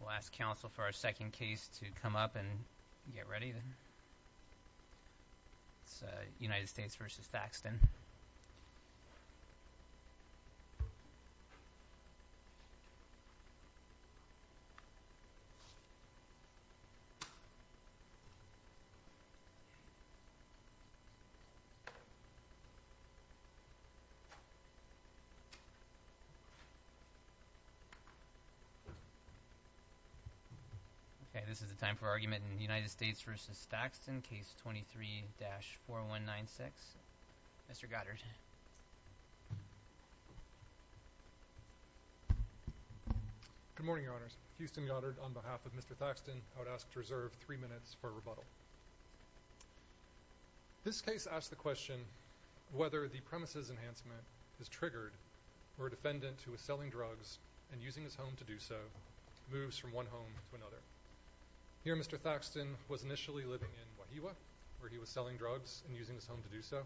We'll ask counsel for our second case to come up and get ready. It's United States v. Thaxton. Okay, this is the time for argument in United States v. Thaxton, case 23-4196. Mr. Goddard. Good morning, Your Honors. Houston Goddard on behalf of Mr. Thaxton. I would ask to reserve three minutes for rebuttal. This case asks the question whether the premises enhancement is triggered where a defendant who is selling drugs and using his home to do so moves from one home to another. Here Mr. Thaxton was initially living in Wahiawa where he was selling drugs and using his home to do so.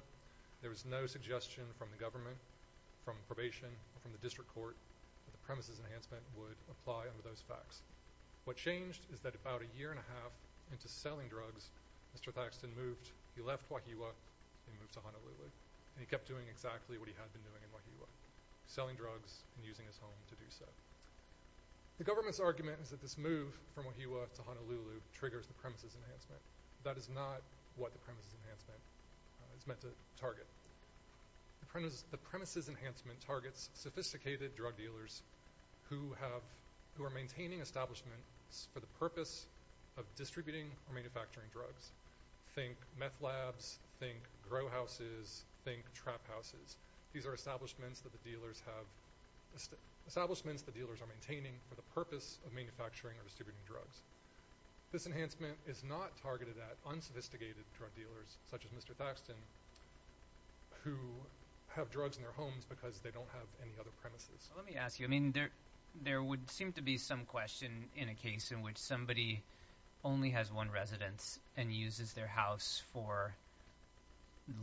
There was no suggestion from the government, from probation, from the district court that the premises enhancement would apply under those facts. What changed is that about a year and a half into selling drugs, Mr. Thaxton moved. He left Wahiawa and moved to Honolulu and he kept doing exactly what he had been doing in Wahiawa, selling drugs and using his home to do so. The government's argument is that this move from Wahiawa to Honolulu triggers the premises enhancement. That is not what the premises enhancement is meant to target. The premises enhancement targets sophisticated drug dealers who are maintaining establishments for the purpose of distributing or manufacturing drugs. Think meth labs, think grow houses, think trap houses. These are establishments that the dealers are maintaining for the purpose of manufacturing or distributing drugs. This enhancement is not targeted at unsophisticated drug dealers such as Mr. Thaxton who have drugs in their homes because they don't have any other premises. Let me ask you. I mean there would seem to be some question in a case in which somebody only has one residence and uses their house for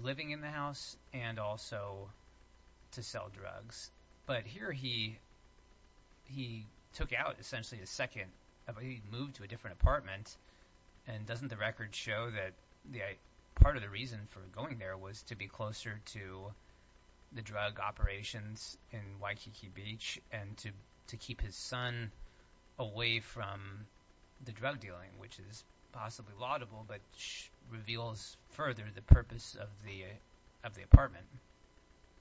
living in the house and also to sell drugs. But here he took out essentially a second – he moved to a different apartment and doesn't the record show that part of the reason for going there was to be closer to the drug operations in Waikiki Beach and to keep his son away from the drug dealing which is possibly laudable but reveals further the purpose of the apartment?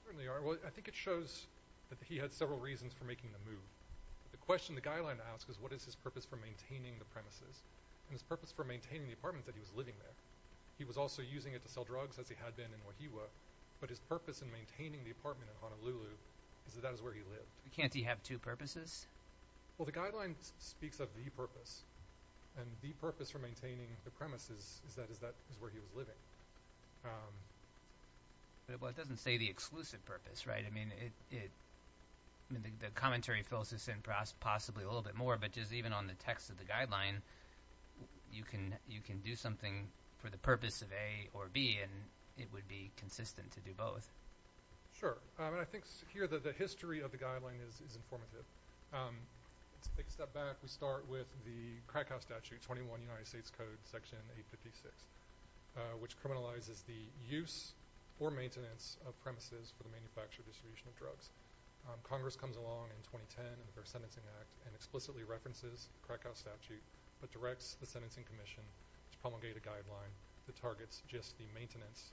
I think it shows that he had several reasons for making the move. The question the guideline asks is what is his purpose for maintaining the premises and his purpose for maintaining the apartment that he was living there. He was also using it to sell drugs as he had been in Wahiawa. But his purpose in maintaining the apartment in Honolulu is that that is where he lived. Can't he have two purposes? Well, the guideline speaks of the purpose. And the purpose for maintaining the premises is that that is where he was living. But it doesn't say the exclusive purpose, right? I mean the commentary fills this in possibly a little bit more but just even on the text of the guideline you can do something for the purpose of A or B and it would be consistent to do both. Sure. I think here the history of the guideline is informative. To take a step back, we start with the Krakow Statute 21 United States Code Section 856 which criminalizes the use or maintenance of premises for the manufacture or distribution of drugs. Congress comes along in 2010 under the Sentencing Act and explicitly references Krakow Statute but directs the Sentencing Commission to promulgate a guideline that targets just the maintenance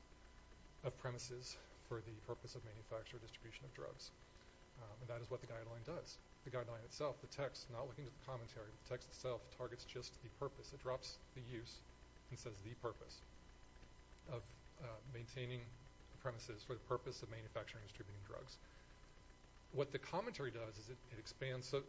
of premises for the purpose of manufacture or distribution of drugs. And that is what the guideline does. The guideline itself, the text, not looking at the commentary, the text itself targets just the purpose. It drops the use and says the purpose of maintaining the premises for the purpose of manufacturing and distributing drugs. What the commentary does is it expands. So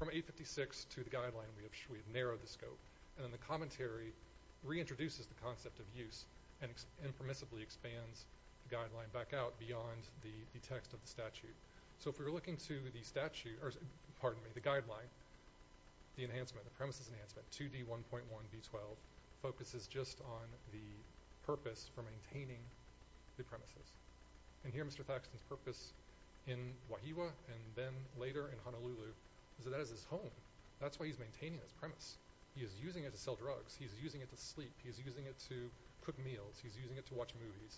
from 856 to the guideline we have narrowed the scope. And then the commentary reintroduces the concept of use and impermissibly expands the guideline back out beyond the text of the statute. So if we were looking to the guideline, the enhancement, the premises enhancement, 2D1.1B12, focuses just on the purpose for maintaining the premises. And here Mr. Thackston's purpose in Wahiwa and then later in Honolulu is that that is his home. That's why he's maintaining his premise. He is using it to sell drugs. He is using it to sleep. He is using it to cook meals. He is using it to watch movies.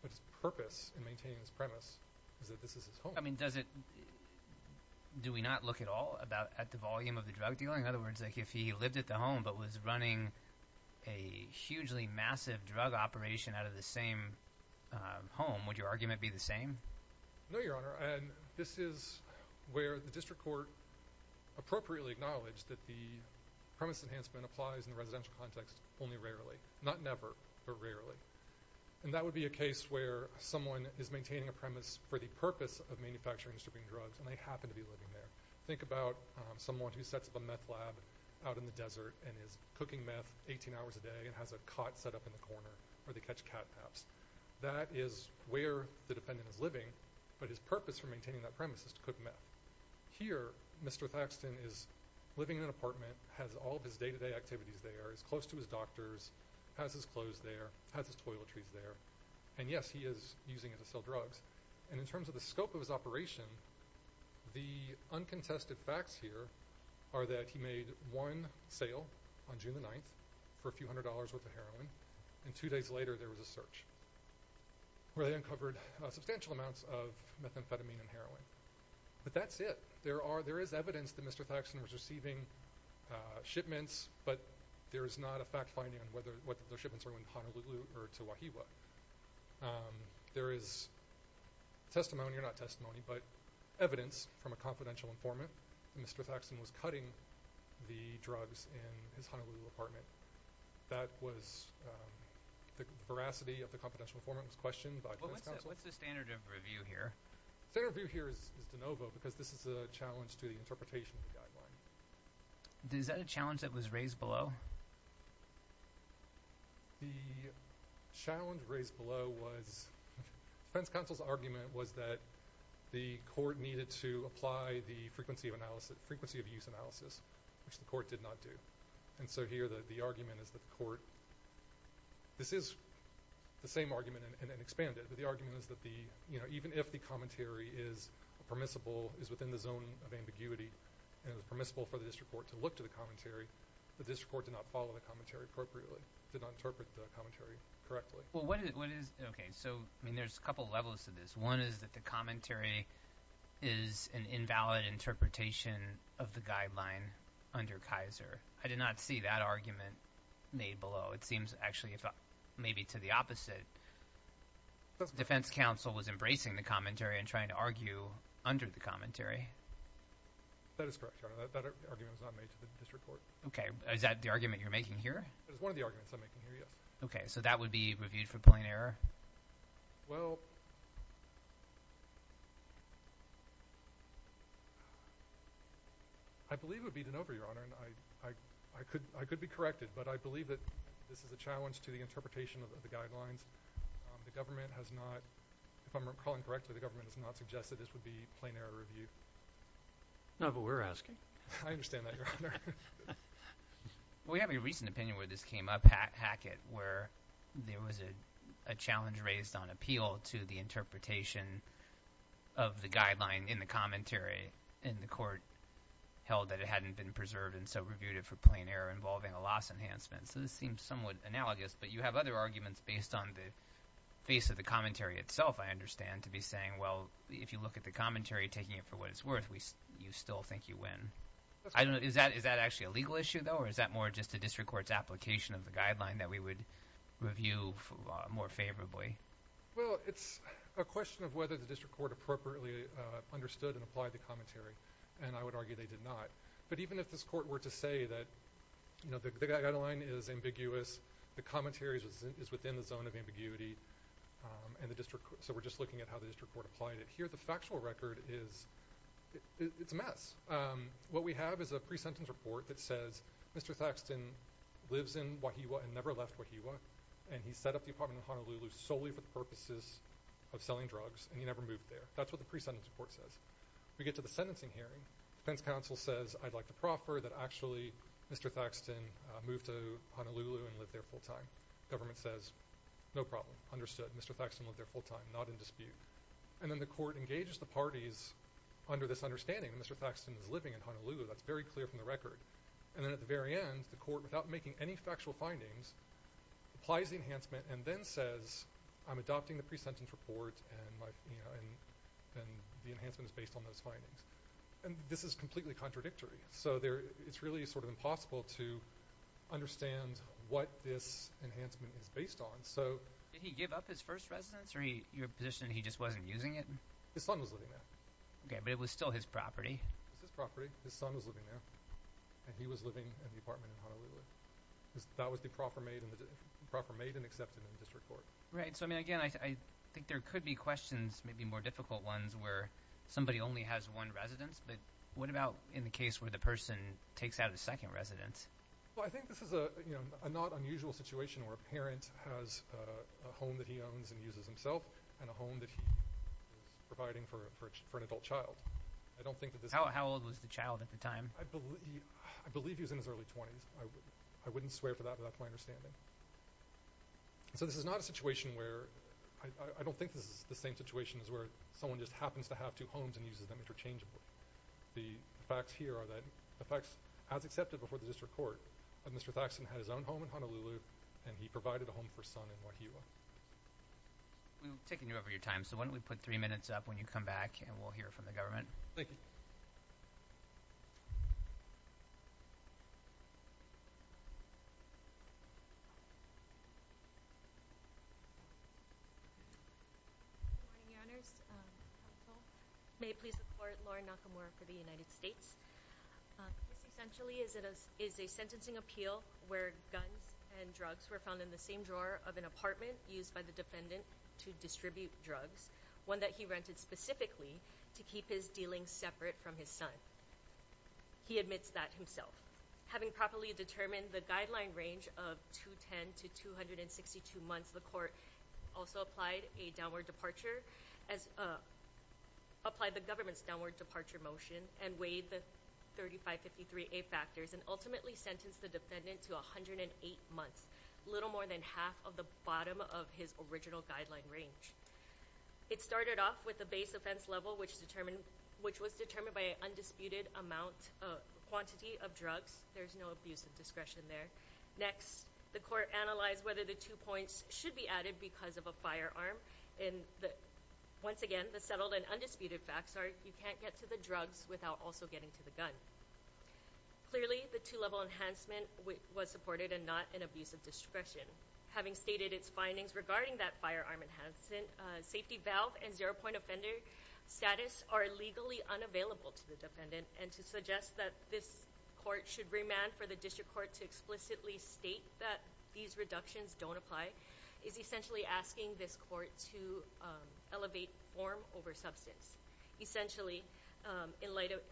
But his purpose in maintaining his premise is that this is his home. I mean does it – do we not look at all at the volume of the drug dealing? In other words, like if he lived at the home but was running a hugely massive drug operation out of the same home, would your argument be the same? No, Your Honor. And this is where the district court appropriately acknowledged that the premise enhancement applies in a residential context only rarely. Not never, but rarely. And that would be a case where someone is maintaining a premise for the purpose of manufacturing and distributing drugs, and they happen to be living there. Think about someone who sets up a meth lab out in the desert and is cooking meth 18 hours a day and has a cot set up in the corner where they catch catnaps. That is where the dependent is living, but his purpose for maintaining that premise is to cook meth. Here, Mr. Thaxton is living in an apartment, has all of his day-to-day activities there, is close to his doctors, has his clothes there, has his toiletries there. And yes, he is using it to sell drugs. And in terms of the scope of his operation, the uncontested facts here are that he made one sale on June the 9th for a few hundred dollars worth of heroin, and two days later there was a search where they uncovered substantial amounts of methamphetamine and heroin. But that's it. There is evidence that Mr. Thaxton was receiving shipments, but there is not a fact-finding on whether the shipments were in Honolulu or to Wahiawa. There is testimony, or not testimony, but evidence from a confidential informant that Mr. Thaxton was cutting the drugs in his Honolulu apartment. That was the veracity of the confidential informant's question by defense counsel. What's the standard of review here? The standard of review here is de novo because this is a challenge to the interpretation of the guideline. Is that a challenge that was raised below? The challenge raised below was defense counsel's argument was that the court needed to apply the frequency of use analysis, which the court did not do. And so here the argument is that the court, this is the same argument and expanded, but the argument is that even if the commentary is permissible, is within the zone of ambiguity, and is permissible for the district court to look to the commentary, the district court did not follow the commentary appropriately, did not interpret the commentary correctly. Okay, so there's a couple levels to this. One is that the commentary is an invalid interpretation of the guideline under Kaiser. I did not see that argument made below. It seems actually maybe to the opposite. Defense counsel was embracing the commentary and trying to argue under the commentary. That is correct, Your Honor. That argument was not made to the district court. Okay. Is that the argument you're making here? That is one of the arguments I'm making here, yes. Okay, so that would be reviewed for plain error? Well, I believe it would be de novo, Your Honor. I could be corrected, but I believe that this is a challenge to the interpretation of the guidelines. The government has not – if I'm recalling correctly, the government has not suggested this would be plain error review. No, but we're asking. I understand that, Your Honor. We have a recent opinion where this came up, Hackett, where there was a challenge raised on appeal to the interpretation of the guideline in the commentary, and the court held that it hadn't been preserved and so reviewed it for plain error involving a loss enhancement. So this seems somewhat analogous, but you have other arguments based on the face of the commentary itself, I understand, to be saying, well, if you look at the commentary, taking it for what it's worth, you still think you win. Is that actually a legal issue, though, or is that more just the district court's application of the guideline that we would review more favorably? Well, it's a question of whether the district court appropriately understood and applied the commentary, and I would argue they did not. But even if this court were to say that the guideline is ambiguous, the commentary is within the zone of ambiguity, so we're just looking at how the district court applied it here, the factual record is a mess. What we have is a pre-sentence report that says Mr. Thaxton lives in Wahiawa and never left Wahiawa, and he set up the apartment in Honolulu solely for the purposes of selling drugs, and he never moved there. That's what the pre-sentence report says. We get to the sentencing hearing. Defense counsel says, I'd like to proffer that actually Mr. Thaxton moved to Honolulu and lived there full-time. Government says, no problem, understood, Mr. Thaxton lived there full-time, not in dispute. And then the court engages the parties under this understanding that Mr. Thaxton is living in Honolulu. That's very clear from the record. And then at the very end, the court, without making any factual findings, applies the enhancement and then says I'm adopting the pre-sentence report and the enhancement is based on those findings. And this is completely contradictory. So it's really sort of impossible to understand what this enhancement is based on. Did he give up his first residence or you're positioning he just wasn't using it? His son was living there. Okay, but it was still his property. It was his property. His son was living there, and he was living in the apartment in Honolulu. That was the proffer made and accepted in the district court. Right. So, I mean, again, I think there could be questions, maybe more difficult ones, where somebody only has one residence. But what about in the case where the person takes out a second residence? Well, I think this is a not unusual situation where a parent has a home that he owns and uses himself and a home that he is providing for an adult child. How old was the child at the time? I believe he was in his early 20s. I wouldn't swear for that, but that's my understanding. So this is not a situation where I don't think this is the same situation as where someone just happens to have two homes and uses them interchangeably. The facts here are that the facts as accepted before the district court that Mr. Thaxton had his own home in Honolulu and he provided a home for his son in Wahiawa. We've taken over your time, so why don't we put three minutes up when you come back and we'll hear from the government. Thank you. Good morning, Your Honors. May I please report, Lauren Nakamura for the United States. This essentially is a sentencing appeal where guns and drugs were found in the same drawer of an apartment used by the defendant to distribute drugs, one that he rented specifically to keep his dealings separate from his son. He admits that himself. Having properly determined the guideline range of 210 to 262 months, the court also applied the government's downward departure motion and weighed the 3553A factors and ultimately sentenced the defendant to 108 months, a little more than half of the bottom of his original guideline range. It started off with the base offense level, which was determined by an undisputed quantity of drugs. There's no abuse of discretion there. Next, the court analyzed whether the two points should be added because of a firearm. Once again, the settled and undisputed facts are you can't get to the drugs without also getting to the gun. Clearly, the two level enhancement was supported and not an abuse of discretion. Having stated its findings regarding that firearm enhancement, safety valve and zero point offender status are legally unavailable to the defendant and to suggest that this court should remand for the district court to explicitly state that these reductions don't apply is essentially asking this court to elevate form over substance. Essentially,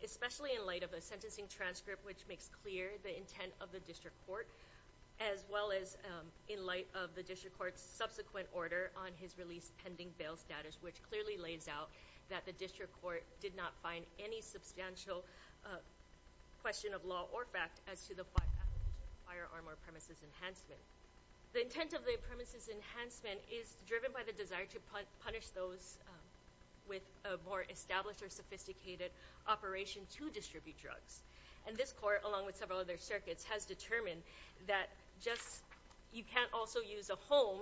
especially in light of a sentencing transcript, which makes clear the intent of the district court, as well as in light of the district court's subsequent order on his release pending bail status, which clearly lays out that the district court did not find any substantial question of law or fact as to the firearm or premises enhancement. The intent of the premises enhancement is driven by the desire to punish those with a more established or sophisticated operation to distribute drugs. This court, along with several other circuits, has determined that you can't also use a home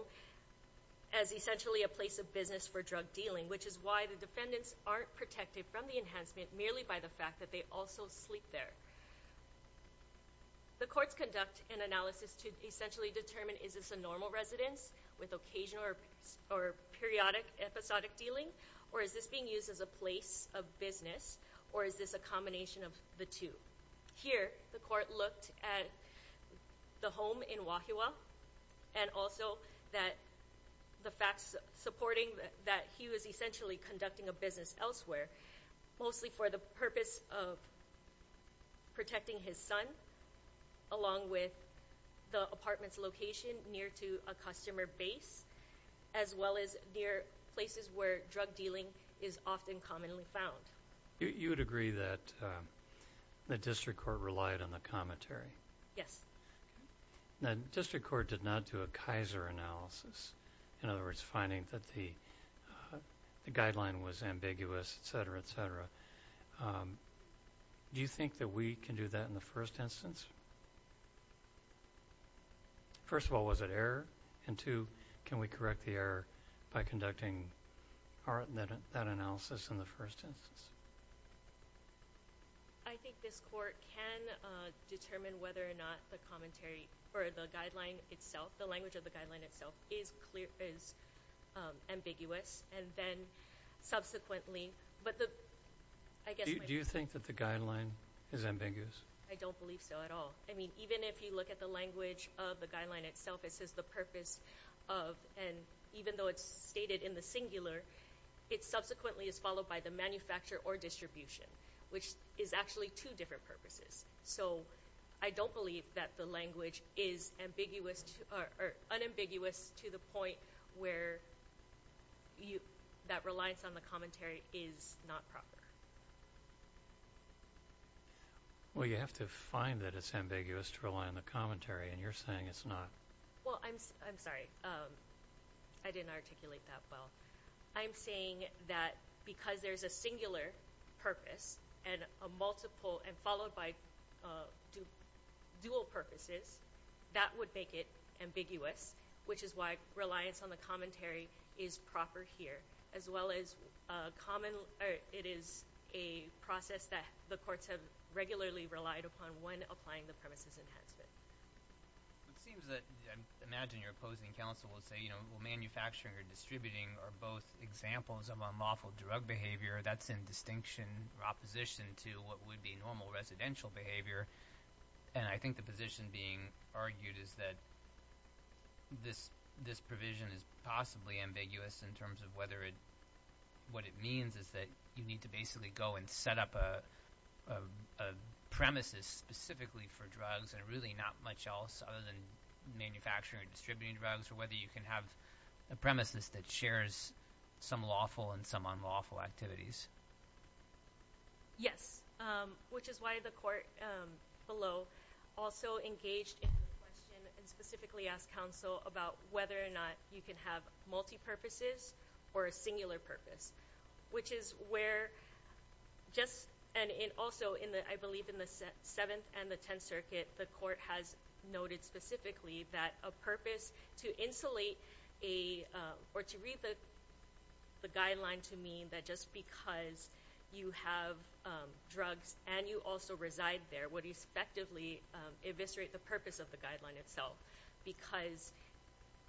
as essentially a place of business for drug dealing, which is why the defendants aren't protected from the enhancement merely by the fact that they also sleep there. The courts conduct an analysis to essentially determine is this a normal residence with occasional or periodic episodic dealing, or is this being used as a place of business, or is this a combination of the two? Here, the court looked at the home in Wahiawa, and also that the facts supporting that he was essentially conducting a business elsewhere, mostly for the purpose of protecting his son, along with the apartment's location near to a customer base, as well as near places where drug dealing is often commonly found. You would agree that the district court relied on the commentary? Yes. The district court did not do a Kaiser analysis, in other words, finding that the guideline was ambiguous, et cetera, et cetera. Do you think that we can do that in the first instance? First of all, was it error? And two, can we correct the error by conducting that analysis in the first instance? I think this court can determine whether or not the commentary or the guideline itself, the language of the guideline itself, is ambiguous, and then subsequently. Do you think that the guideline is ambiguous? I don't believe so at all. I mean, even if you look at the language of the guideline itself, it says the purpose of, and even though it's stated in the singular, it subsequently is followed by the manufacture or distribution, which is actually two different purposes. So I don't believe that the language is ambiguous or unambiguous to the point where that reliance on the commentary is not proper. Well, you have to find that it's ambiguous to rely on the commentary, and you're saying it's not. Well, I'm sorry. I didn't articulate that well. I'm saying that because there's a singular purpose and a multiple and followed by dual purposes, that would make it ambiguous, which is why reliance on the commentary is proper here, as well as it is a process that the courts have regularly relied upon when applying the premises enhancement. It seems that I imagine your opposing counsel will say, you know, well, manufacturing or distributing are both examples of unlawful drug behavior. That's in distinction or opposition to what would be normal residential behavior. I think the position being argued is that this provision is possibly ambiguous in terms of what it means is that you need to basically go and set up a premises specifically for drugs and really not much else other than manufacturing or distributing drugs or whether you can have a premises that shares some lawful and some unlawful activities. Yes, which is why the court below also engaged in the question and specifically asked counsel about whether or not you can have multipurposes or a singular purpose, which is where just – and also I believe in the Seventh and the Tenth Circuit, the court has noted specifically that a purpose to insulate a – or to read the guideline to mean that just because you have drugs and you also reside there would respectively eviscerate the purpose of the guideline itself because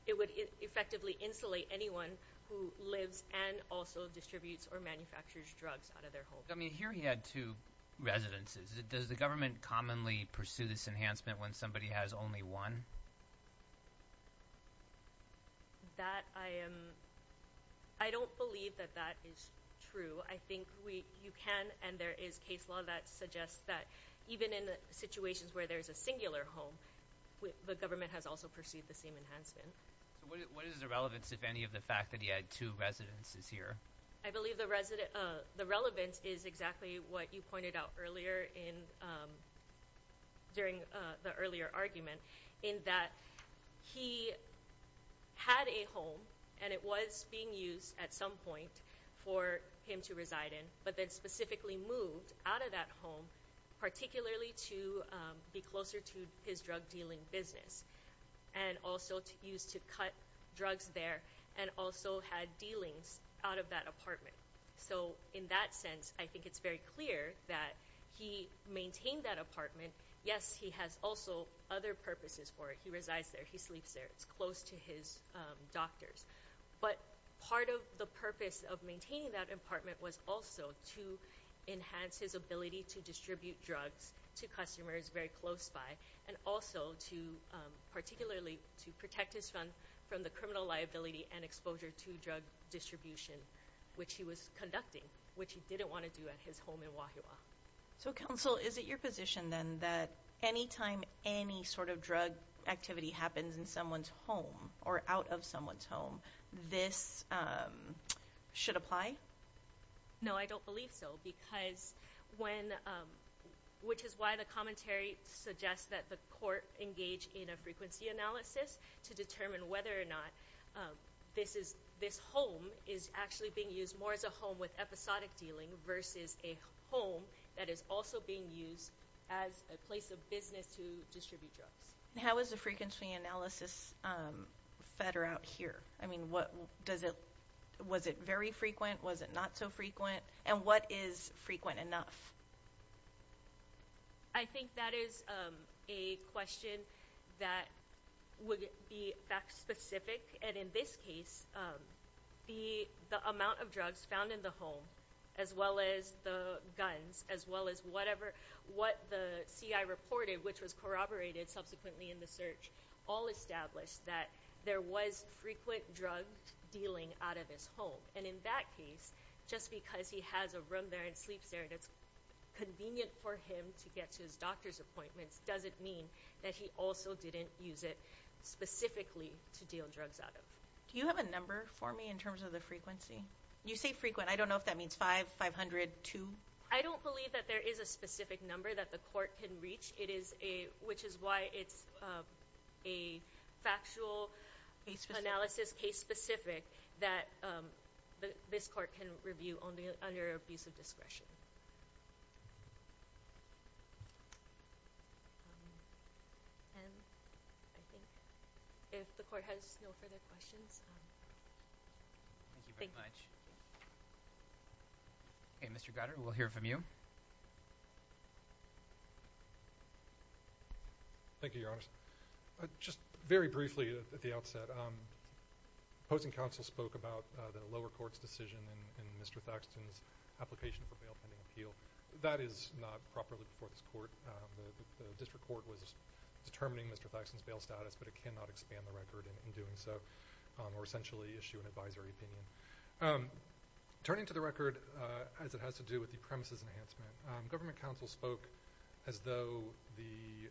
it would effectively insulate anyone who lives and also distributes or manufactures drugs out of their home. I mean, here he had two residences. Does the government commonly pursue this enhancement when somebody has only one? That I am – I don't believe that that is true. I think you can, and there is case law that suggests that even in situations where there's a singular home, the government has also pursued the same enhancement. What is the relevance, if any, of the fact that he had two residences here? I believe the relevance is exactly what you pointed out earlier in – during the earlier argument in that he had a home and it was being used at some point for him to reside in, but then specifically moved out of that home, particularly to be closer to his drug-dealing business and also used to cut drugs there and also had dealings out of that apartment. So in that sense, I think it's very clear that he maintained that apartment. Yes, he has also other purposes for it. He resides there. He sleeps there. It's close to his doctor's. But part of the purpose of maintaining that apartment was also to enhance his ability to distribute drugs to customers very close by and also to – particularly to protect his funds from the criminal liability and exposure to drug distribution, which he was conducting, which he didn't want to do at his home in Wahiawa. So, Counsel, is it your position, then, that any time any sort of drug activity happens in someone's home or out of someone's home, this should apply? No, I don't believe so, because when – which is why the commentary suggests that the court engage in a frequency analysis to determine whether or not this is – this home is actually being used more as a home with episodic dealing versus a home that is also being used as a place of business to distribute drugs. How is the frequency analysis fed around here? I mean, what – does it – was it very frequent? Was it not so frequent? And what is frequent enough? I think that is a question that would be fact-specific. And in this case, the amount of drugs found in the home, as well as the guns, as well as whatever – what the CI reported, which was corroborated subsequently in the search, all established that there was frequent drug dealing out of his home. And in that case, just because he has a room there and sleeps there that's convenient for him to get to his doctor's appointments doesn't mean that he also didn't use it specifically to deal drugs out of. Do you have a number for me in terms of the frequency? You say frequent. I don't know if that means 500, 200. I don't believe that there is a specific number that the court can reach, which is why it's a factual analysis, case-specific, that this court can review under abuse of discretion. And I think if the court has no further questions. Thank you very much. Okay, Mr. Goddard, we'll hear from you. Thank you, Your Honor. Just very briefly at the outset, opposing counsel spoke about the lower court's decision in Mr. Thackston's application for bail pending appeal. That is not properly before this court. The district court was determining Mr. Thackston's bail status, but it cannot expand the record in doing so or essentially issue an advisory opinion. Turning to the record as it has to do with the premises enhancement, government counsel spoke as though the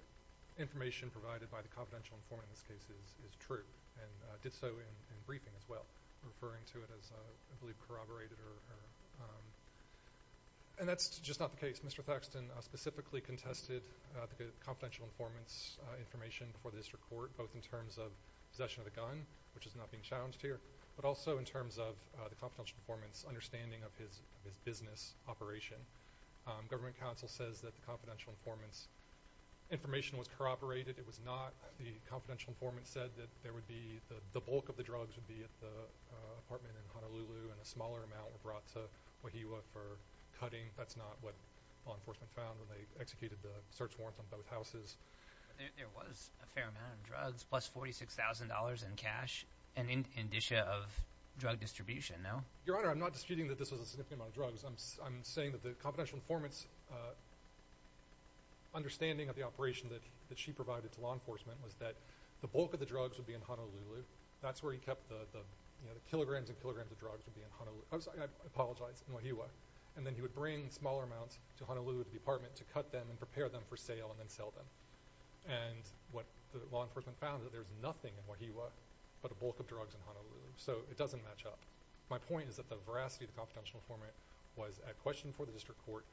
information provided by the confidential informant in this case is true and did so in briefing as well, referring to it as, I believe, corroborated. And that's just not the case. Mr. Thackston specifically contested the confidential informant's information before the district court, both in terms of possession of the gun, which is not being challenged here, but also in terms of the confidential informant's understanding of his business operation. Government counsel says that the confidential informant's information was corroborated. It was not. The confidential informant said that the bulk of the drugs would be at the apartment in Honolulu and a smaller amount were brought to Wahiawa for cutting. That's not what law enforcement found when they executed the search warrant on both houses. There was a fair amount of drugs plus $46,000 in cash and indicia of drug distribution, no? Your Honor, I'm not disputing that this was a significant amount of drugs. I'm saying that the confidential informant's understanding of the operation that she provided to law enforcement was that the bulk of the drugs would be in Honolulu. That's where he kept the kilograms and kilograms of drugs would be in Honolulu. I apologize, in Wahiawa. And then he would bring smaller amounts to Honolulu, the apartment, to cut them and prepare them for sale and then sell them. And what law enforcement found is that there's nothing in Wahiawa but a bulk of drugs in Honolulu. So it doesn't match up. My point is that the veracity of the confidential informant was a question for the District Court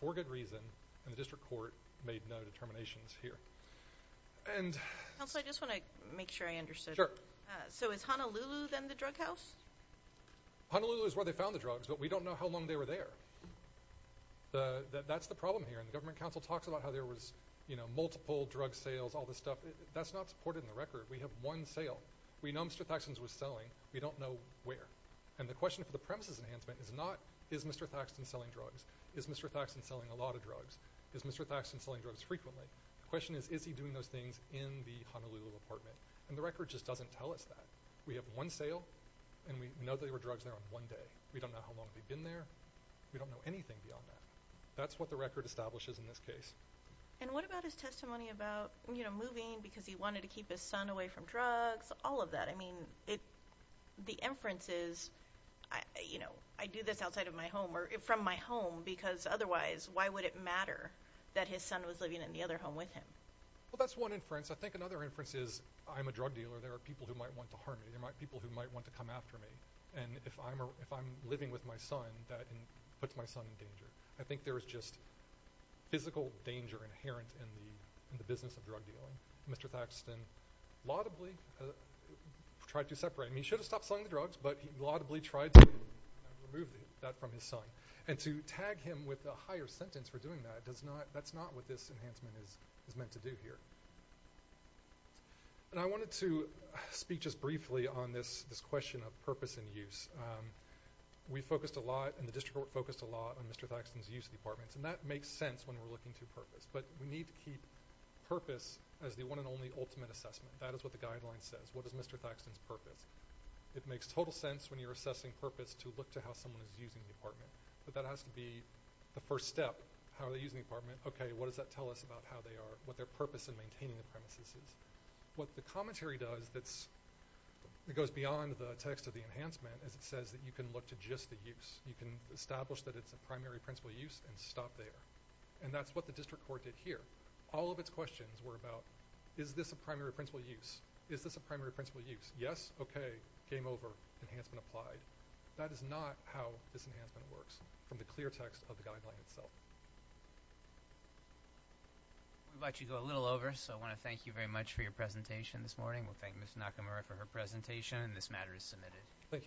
for good reason, and the District Court made no determinations here. Counsel, I just want to make sure I understood. So is Honolulu then the drug house? Honolulu is where they found the drugs, but we don't know how long they were there. That's the problem here. And the Government Council talks about how there was multiple drug sales, all this stuff. That's not supported in the record. We have one sale. We know Mr. Thaksin's was selling. We don't know where. And the question for the premises enhancement is not, is Mr. Thaksin selling drugs? Is Mr. Thaksin selling a lot of drugs? Is Mr. Thaksin selling drugs frequently? The question is, is he doing those things in the Honolulu apartment? And the record just doesn't tell us that. We have one sale, and we know there were drugs there on one day. We don't know how long they've been there. We don't know anything beyond that. That's what the record establishes in this case. And what about his testimony about, you know, moving because he wanted to keep his son away from drugs? All of that. I mean, the inference is, you know, I do this outside of my home or from my home because otherwise why would it matter that his son was living in the other home with him? Well, that's one inference. I think another inference is I'm a drug dealer. There are people who might want to harm me. There are people who might want to come after me. And if I'm living with my son, that puts my son in danger. I think there is just physical danger inherent in the business of drug dealing. Mr. Thaxton laudably tried to separate. I mean, he should have stopped selling the drugs, but he laudably tried to remove that from his son. And to tag him with a higher sentence for doing that, that's not what this enhancement is meant to do here. And I wanted to speak just briefly on this question of purpose and use. We focused a lot and the district focused a lot on Mr. Thaxton's use of the apartments, and that makes sense when we're looking to purpose. But we need to keep purpose as the one and only ultimate assessment. That is what the guideline says. What is Mr. Thaxton's purpose? It makes total sense when you're assessing purpose to look to how someone is using the apartment. But that has to be the first step. How are they using the apartment? Okay, what does that tell us about how they are, what their purpose in maintaining the premises is? What the commentary does that goes beyond the text of the enhancement is it says that you can look to just the use. You can establish that it's a primary principle use and stop there. And that's what the district court did here. All of its questions were about is this a primary principle use? Is this a primary principle use? Yes? Okay. Game over. Enhancement applied. That is not how this enhancement works from the clear text of the guideline itself. I would like to go a little over, so I want to thank you very much for your presentation this morning. We'll thank Ms. Nakamura for her presentation, and this matter is submitted. Thank you.